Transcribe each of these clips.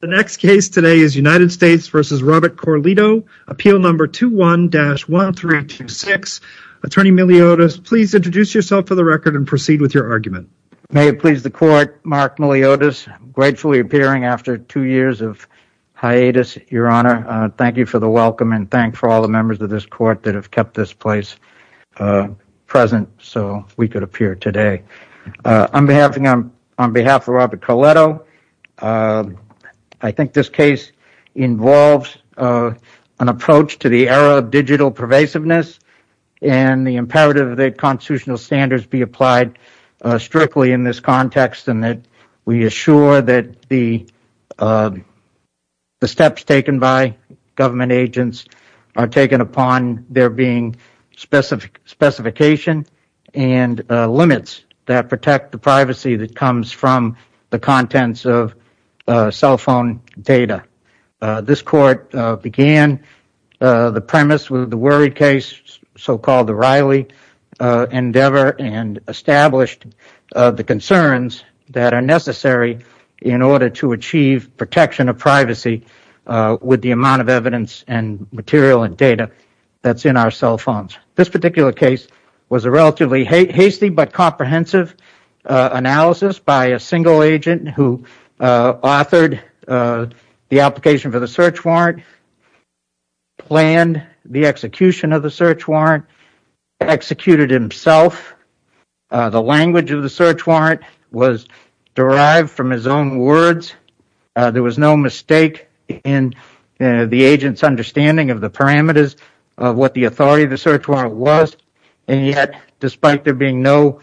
The next case today is United States v. Robert Corleto, Appeal No. 21-1326. Attorney Miliotis, please introduce yourself for the record and proceed with your argument. May it please the Court, Mark Miliotis, gratefully appearing after two years of hiatus, Your Honor. Thank you for the welcome and thank you for all the members of this Court that have kept this place present so we could appear today. On behalf of Robert Corleto, I think this case involves an approach to the era of digital pervasiveness and the imperative that constitutional standards be applied strictly in this context and that we assure that the steps taken by government agents are taken upon there being specifications and limits that protect the privacy that comes from the contents of cell phone data. This Court began the premise with the Worry case, so-called the Riley endeavor, and established the concerns that are necessary in order to achieve protection of privacy with the amount of evidence and material and data that's in our cell phones. This particular case was a relatively hasty but comprehensive analysis by a single agent who authored the application for the search warrant, planned the execution of the search warrant, executed it himself. The language of the search warrant was derived from his own words. There was no mistake in the agent's understanding of the parameters of what the authority of the search warrant was, and yet, despite there being no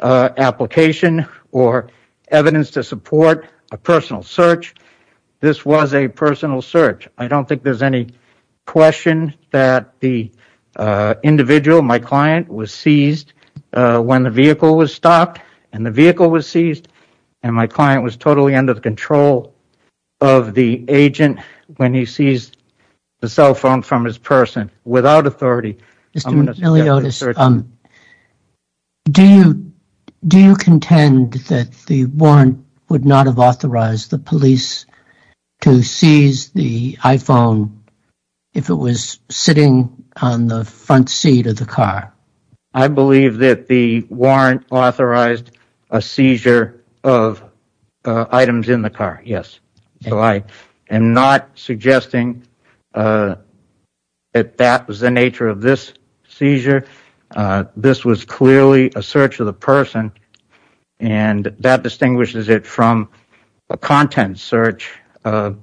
application or evidence to support a personal search, this was a personal search. I don't think there's any question that the individual, my client, was seized when the vehicle was seized, and my client was totally under the control of the agent when he seized the cell phone from his person. Without authority, I'm going to... Mr. Miliotis, do you contend that the warrant would not have authorized the police to seize the iPhone if it was sitting on the front seat of the car? I believe that the warrant authorized a seizure of items in the car, yes. So I am not suggesting that that was the nature of this seizure. This was clearly a search of the person, and that distinguishes it from a content search that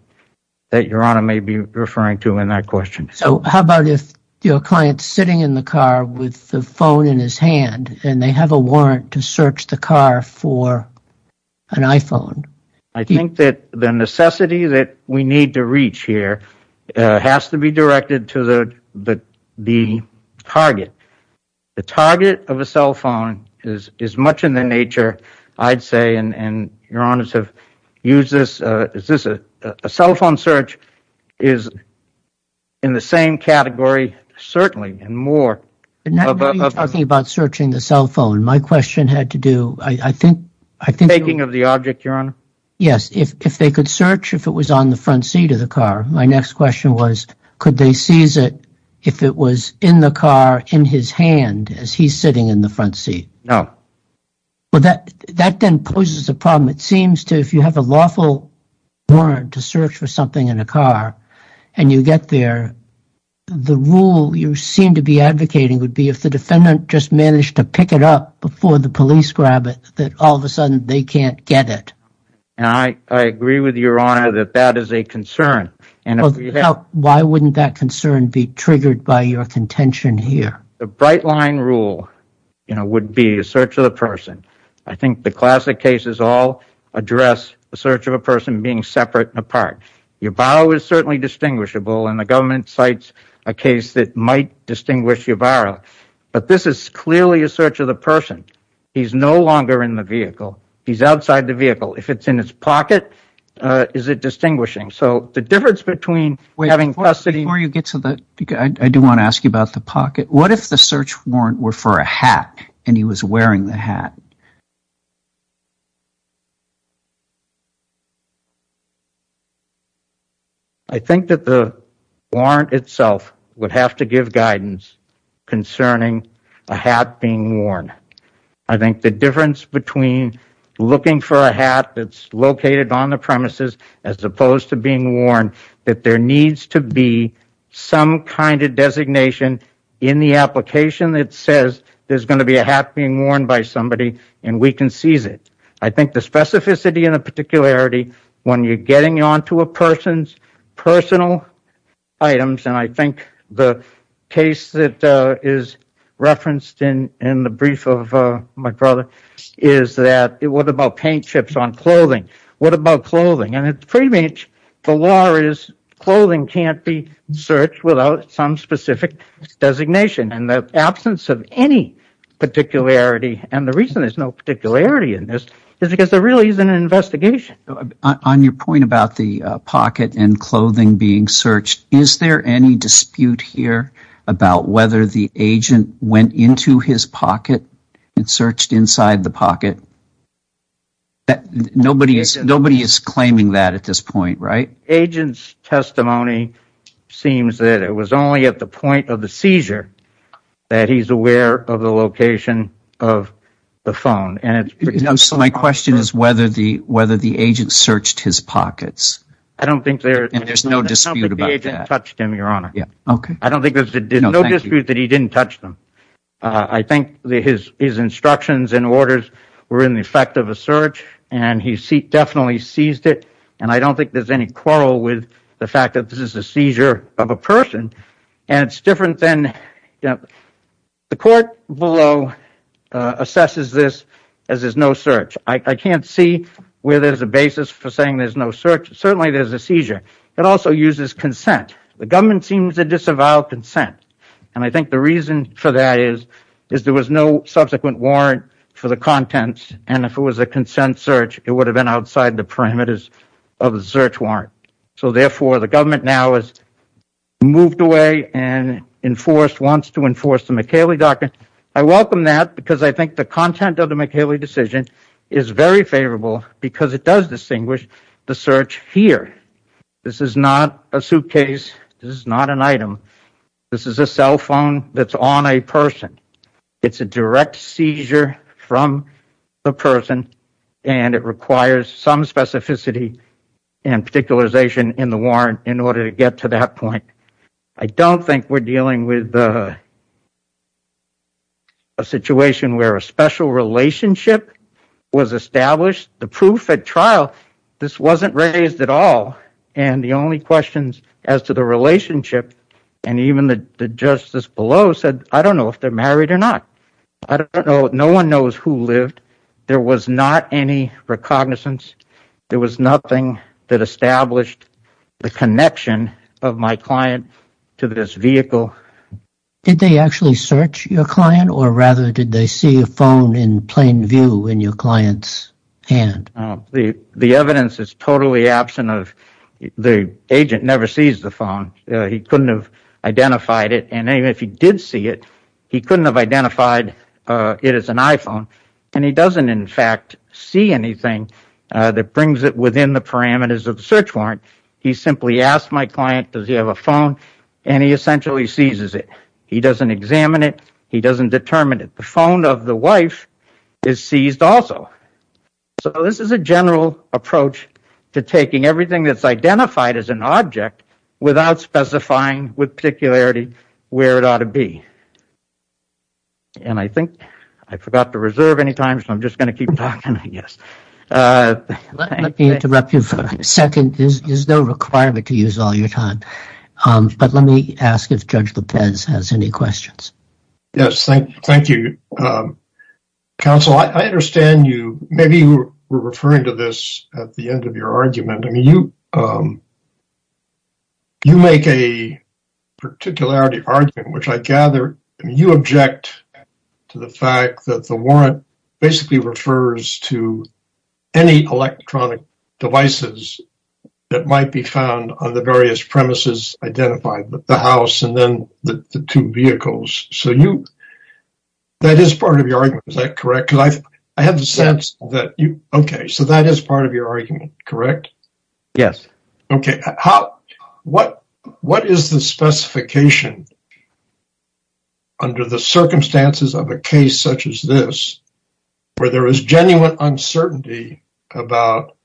Your Honor may be referring to in that question. So how about if your client's sitting in the car with the phone in his hand, and they have a warrant to search the car for an iPhone? I think that the necessity that we need to reach here has to be directed to the target. The target of a cell phone is much in the nature, I'd say, and Your Honors have used this, is this a cell phone search is in the same category, certainly, and more. Now you're talking about searching the cell phone. My question had to do, I think... Taking of the object, Your Honor? Yes, if they could search if it was on the front seat of the car. My next question was, could they seize it if it was in the car in his hand as he's sitting in the front seat? No. Well, that then poses a problem. It seems to, if you have a lawful warrant to search for something in a car, and you get there, the rule you seem to be advocating would be if the defendant just managed to pick it up before the police grab it, that all of a sudden they can't get it. And I agree with Your Honor that that is a concern. And why wouldn't that concern be triggered by your contention here? The bright line rule, you know, would be a search of the person. I think the classic cases all address the search of a person being separate and apart. Yabarro is certainly distinguishable, and the government cites a case that might distinguish Yabarro. But this is clearly a search of the person. He's no longer in the vehicle. He's outside the vehicle. If it's in his pocket, is it distinguishing? So the difference between having custody... If the search warrant were for a hat, and he was wearing the hat... I think that the warrant itself would have to give guidance concerning a hat being worn. I think the difference between looking for a hat that's located on the premises, as opposed to being worn, that there needs to be some kind of designation in the application that says there's going to be a hat being worn by somebody, and we can seize it. I think the specificity and the particularity, when you're getting onto a person's personal items, and I think the case that is referenced in the brief of my brother, is that, what about paint chips on clothing? What about clothing? And pretty much, the law is, clothing can't be searched without some specific designation. And the absence of any particularity, and the reason there's no particularity in this, is because there really isn't an investigation. On your point about the pocket and clothing being searched, is there any dispute here about whether the agent went into his pocket and searched inside the pocket? That nobody is claiming that at this point, right? Agent's testimony seems that it was only at the point of the seizure that he's aware of the location of the phone. And so my question is whether the agent searched his pockets. I don't think there's no dispute about that. I don't think the agent touched him, your honor. Yeah, okay. I don't think there's no dispute that he didn't touch them. I think his instructions and orders were in the effect of a search, and he definitely seized it. And I don't think there's any quarrel with the fact that this is a seizure of a person. And it's different than, you know, the court below assesses this as there's no search. I can't see where there's a basis for saying there's no search. Certainly there's a seizure. It also uses consent. The government seems to disavow consent. And I think the reason for that is there was no subsequent warrant for the contents. And if it was a consent search, it would have been outside the parameters of the search warrant. So therefore, the government now has moved away and wants to enforce the McHaley docket. I welcome that because I think the content of the McHaley decision is very favorable because it does distinguish the search here. This is not an item. This is a cell phone that's on a person. It's a direct seizure from the person, and it requires some specificity and particularization in the warrant in order to get to that point. I don't think we're dealing with a situation where a special relationship was established. The proof at trial, this wasn't raised at all. And the only questions as to the relationship and even the justice below said, I don't know if they're married or not. I don't know. No one knows who lived. There was not any recognizance. There was nothing that established the connection of my client to this vehicle. Did they actually search your client? Or rather, did they see a phone in plain view in your client's hand? The evidence is totally absent of the agent never sees the phone. He couldn't have identified it. And even if he did see it, he couldn't have identified it as an iPhone. And he doesn't, in fact, see anything that brings it within the parameters of the search warrant. He simply asked my client, does he have a phone? And he essentially seizes it. He doesn't examine it. He doesn't determine it. The phone of the wife is seized also. So this is a general approach to taking everything that's identified as an object without specifying with particularity where it ought to be. And I think I forgot to reserve any time. So I'm just going to keep talking, I guess. Let me interrupt you for a second. There's no requirement to use all your time. But let me ask if Judge Lopez has any questions. Yes, thank you. Counsel, I understand you, maybe you were referring to this at the end of your argument. I mean, you make a particularity argument, which I gather you object to the fact that the warrant basically refers to any electronic devices that might be found on the various premises identified, the house and then the two vehicles. So that is part of your argument. Is that correct? I have the sense that you okay. So that is part of your argument, correct? Yes. Okay. What is the specification under the circumstances of a case such as this where there is genuine uncertainty about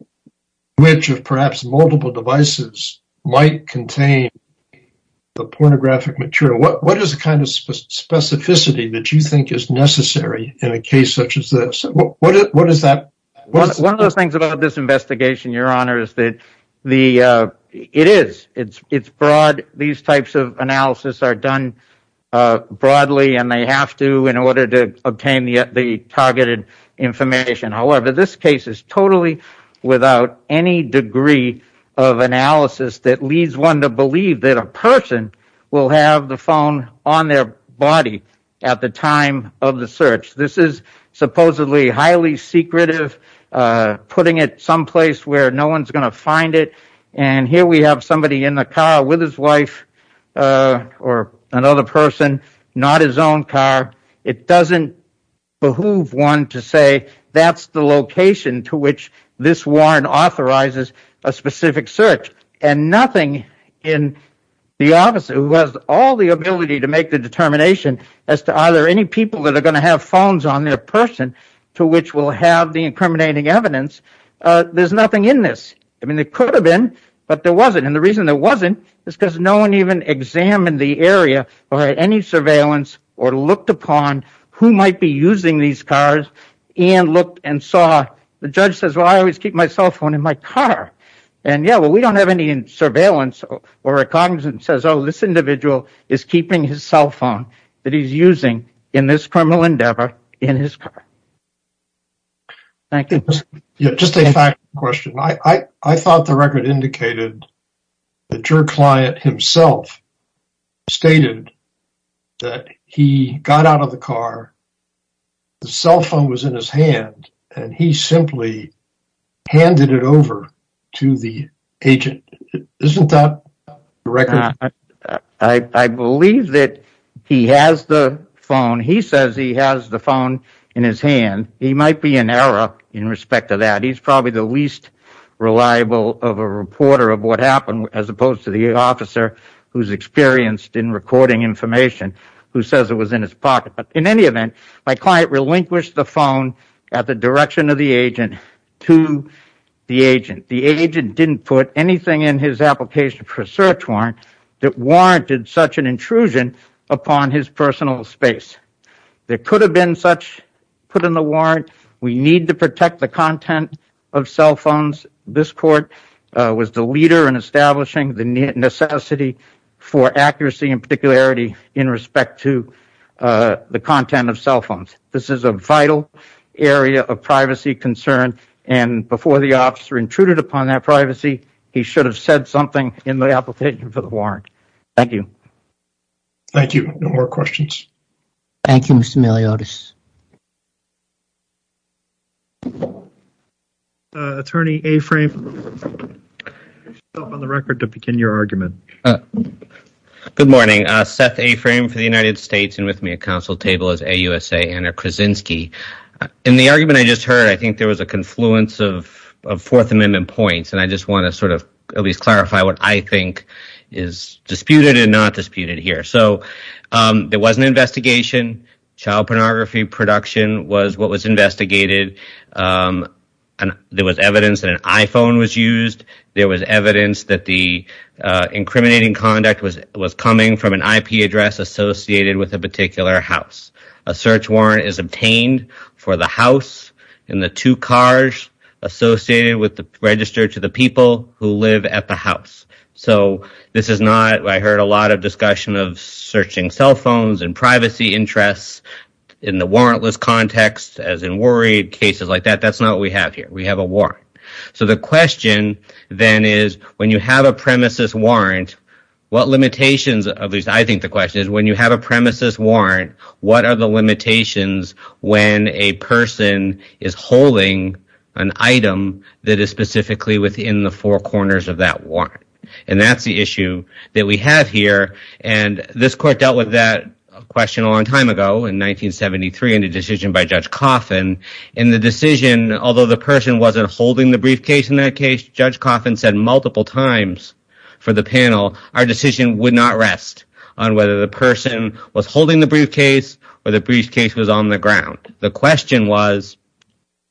which of perhaps multiple devices might contain the pornographic material? What is the kind of specificity that you think is necessary in a case such as this? What is that? One of the things about this investigation, Your Honor, is that it is, it's broad. These types of analysis are done broadly and they have to in order to obtain the targeted information. However, this case is totally without any degree of analysis that leads one to believe that a person will have the phone on their body at the time of the search. This is supposedly highly secretive, putting it someplace where no one's going to find it. And here we have somebody in the car with his wife or another person, not his own car. It doesn't behoove one to say that's the location to which this warrant authorizes a specific search. And nothing in the office who has all the ability to make the determination as to are there any people that are going to have phones on their person to which we'll have the incriminating evidence. There's nothing in this. I mean, it could have been, but there wasn't. And the reason there wasn't is because no one even examined the area or any surveillance or looked upon who might be using these cars and looked and saw. The judge says, well, I always keep my cell phone in my car. And yeah, well, we don't have any surveillance or a cognizant says, oh, this individual is keeping his cell phone that he's using in this criminal endeavor in his car. Thank you. Just a question. I thought the record indicated that your client himself stated that he got out of the car. The cell phone was in his hand and he simply handed it over to the agent. Isn't that right? I believe that he has the phone. He says he has the phone in his hand. He might be an error in respect to that. He's probably the least reliable of a reporter of what happened, as opposed to the officer who's experienced in recording information who says it was in his pocket. In any event, my client relinquished the phone at the direction of the agent to the agent. The agent didn't put anything in his application for a search warrant that warranted such an intrusion upon his personal space. There could have been such put in the warrant. We need to protect the content of cell phones. This court was the leader in establishing the necessity for accuracy and particularity in respect to the content of cell phones. This is a vital area of privacy concern, and before the officer intruded upon that privacy, he should have said something in the application for the warrant. Thank you. Thank you. No more questions. Thank you, Mr. Miliotis. Attorney Aframe, on the record to begin your argument. Good morning. Seth Aframe for the United States, and with me at counsel table is AUSA Anna Krasinski. In the argument I just heard, I think there was a confluence of Fourth Amendment points, and I just want to sort of at least clarify what I think is disputed and not disputed here. So there was an investigation. Child pornography production was what was investigated. There was evidence that an iPhone was used. There was evidence that the incriminating conduct was coming from an IP address associated with a particular house. A search warrant is obtained for the house and the two cars associated with the registered to the people who live at the house. So this is not, I heard a lot of discussion of searching cell phones and privacy interests in the warrantless context, as in worried cases like that. That's not what we have here. We have a warrant. So the question then is, when you have a premises warrant, what limitations, at least I think the question is, when you have a premises warrant, what are the limitations when a person is holding an item that is specifically within the four corners of that warrant? And that's the issue that we have here. And this court dealt with that question a long time ago in 1973 in a decision by Judge Coffin. And in that case, Judge Coffin said multiple times for the panel, our decision would not rest on whether the person was holding the briefcase or the briefcase was on the ground. The question was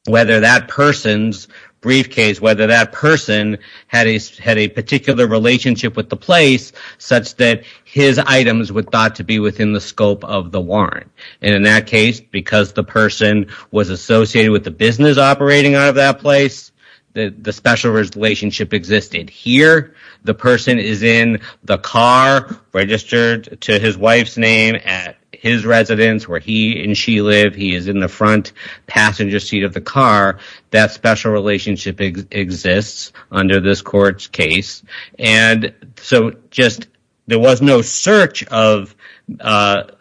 whether that person's briefcase, whether that person had a particular relationship with the place such that his items were thought to be within the scope of the warrant. And in that case, because the person was associated with the business operating out of that place, the special relationship existed. Here, the person is in the car registered to his wife's name at his residence where he and she live. He is in the front passenger seat of the car. That special relationship exists under this court's case. And so just there was no search of the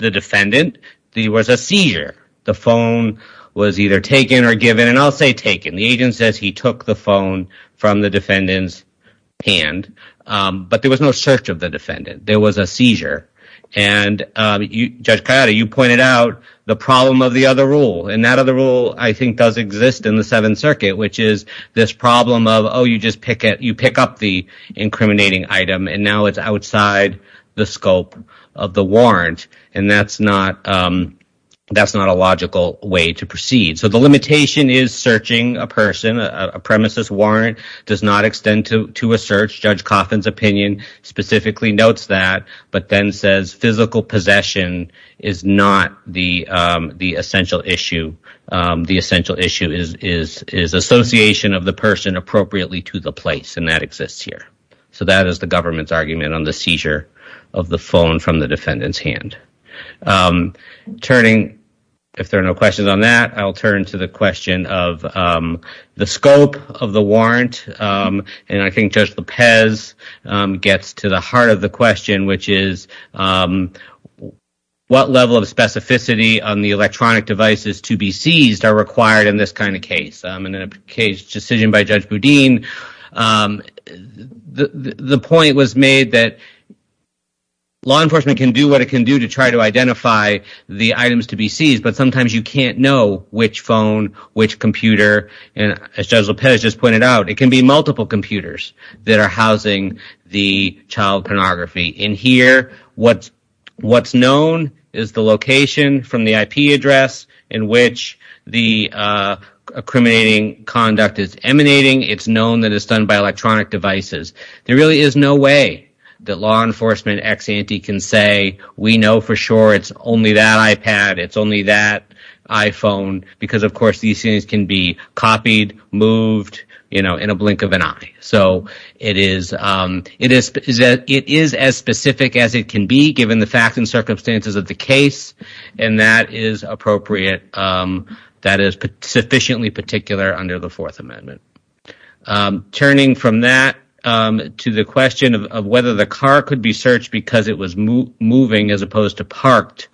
defendant. There was a seizure. The phone was either taken or given. And I'll say taken. The agent says he took the phone from the defendant's hand. But there was no search of the defendant. There was a seizure. And Judge Ciotta, you pointed out the problem of the other rule. And that other rule, I think, does exist in the Seventh Circuit, which is this problem of, oh, you just pick up the incriminating item, and now it's outside the scope of the warrant. And that's not a logical way to proceed. So the limitation is searching a person. A premises warrant does not extend to a search. Judge Coffin's opinion specifically notes that, but then says physical possession is not the essential issue. The essential issue is association of the person appropriately to the place. And that exists here. So that is the government's argument on the seizure of the phone from the defendant's hand. I'm turning, if there are no questions on that, I'll turn to the question of the scope of the warrant. And I think Judge Lopez gets to the heart of the question, which is, what level of specificity on the electronic devices to be seized are required in this kind of case? And in a case decision by Judge Boudin, the point was made that law enforcement can do to try to identify the items to be seized, but sometimes you can't know which phone, which computer. And as Judge Lopez just pointed out, it can be multiple computers that are housing the child pornography. In here, what's known is the location from the IP address in which the accriminating conduct is emanating. It's known that it's done by electronic devices. There really is no way that law enforcement ex-ante can say, we know for sure it's only that iPad. It's only that iPhone. Because, of course, these things can be copied, moved in a blink of an eye. So it is as specific as it can be, given the facts and circumstances of the case. And that is appropriate. That is sufficiently particular under the Fourth Amendment. Turning from that to the question of whether the car could be searched because it was moving as opposed to parked,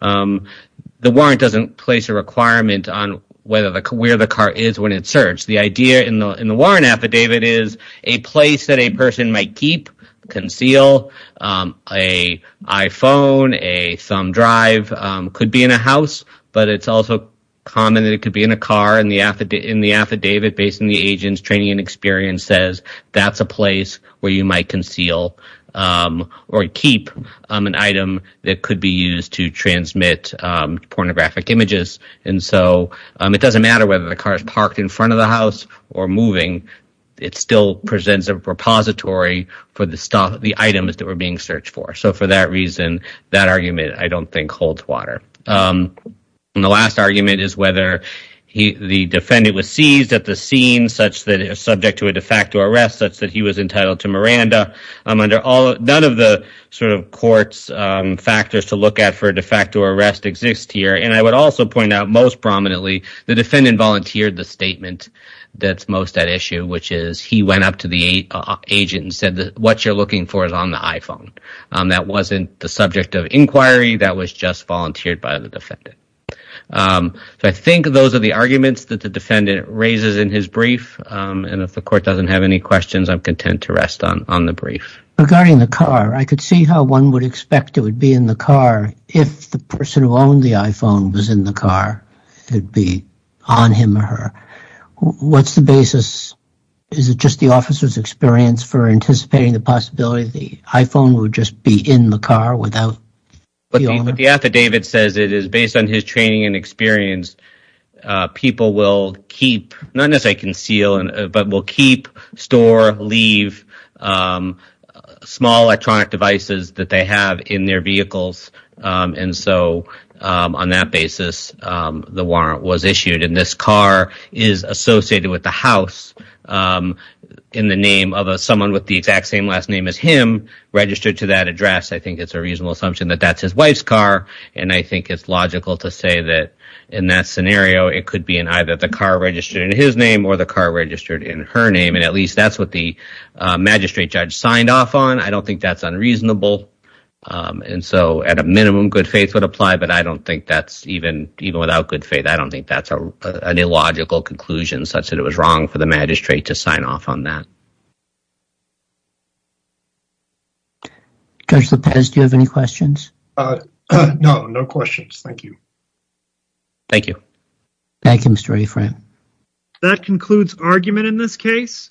the warrant doesn't place a requirement on where the car is when it's searched. The idea in the warrant affidavit is a place that a person might keep, conceal, a iPhone, but it's also common that it could be in a car and the affidavit based on the agent's training and experience says that's a place where you might conceal or keep an item that could be used to transmit pornographic images. And so it doesn't matter whether the car is parked in front of the house or moving. It still presents a repository for the items that were being searched for. So for that reason, that argument, I don't think, holds water. And the last argument is whether the defendant was seized at the scene, subject to a de facto arrest, such that he was entitled to Miranda. None of the sort of court's factors to look at for a de facto arrest exist here. And I would also point out, most prominently, the defendant volunteered the statement that's most at issue, which is he went up to the agent and said, what you're looking for is on the iPhone. That wasn't the subject of inquiry. That was just volunteered by the defendant. So I think those are the arguments that the defendant raises in his brief. And if the court doesn't have any questions, I'm content to rest on the brief. Regarding the car, I could see how one would expect it would be in the car if the person who owned the iPhone was in the car. It would be on him or her. What's the basis? Is it just the officer's experience for anticipating the possibility the iPhone would just be in the car without the owner? But the affidavit says it is based on his training and experience. People will keep, not necessarily conceal, but will keep, store, leave small electronic devices that they have in their vehicles. And so on that basis, the warrant was issued. And this car is associated with the house in the name of someone with the exact same last name as him registered to that address. I think it's a reasonable assumption that that's his wife's car. And I think it's logical to say that in that scenario, it could be in either the car registered in his name or the car registered in her name. And at least that's what the magistrate judge signed off on. I don't think that's unreasonable. And so at a minimum, good faith would apply. But I don't think that's even without good faith. I don't think that's an illogical conclusion such that it was wrong for the magistrate to sign off on that. Judge Lopez, do you have any questions? No, no questions. Thank you. Thank you. Thank you, Mr. Afram. That concludes argument in this case.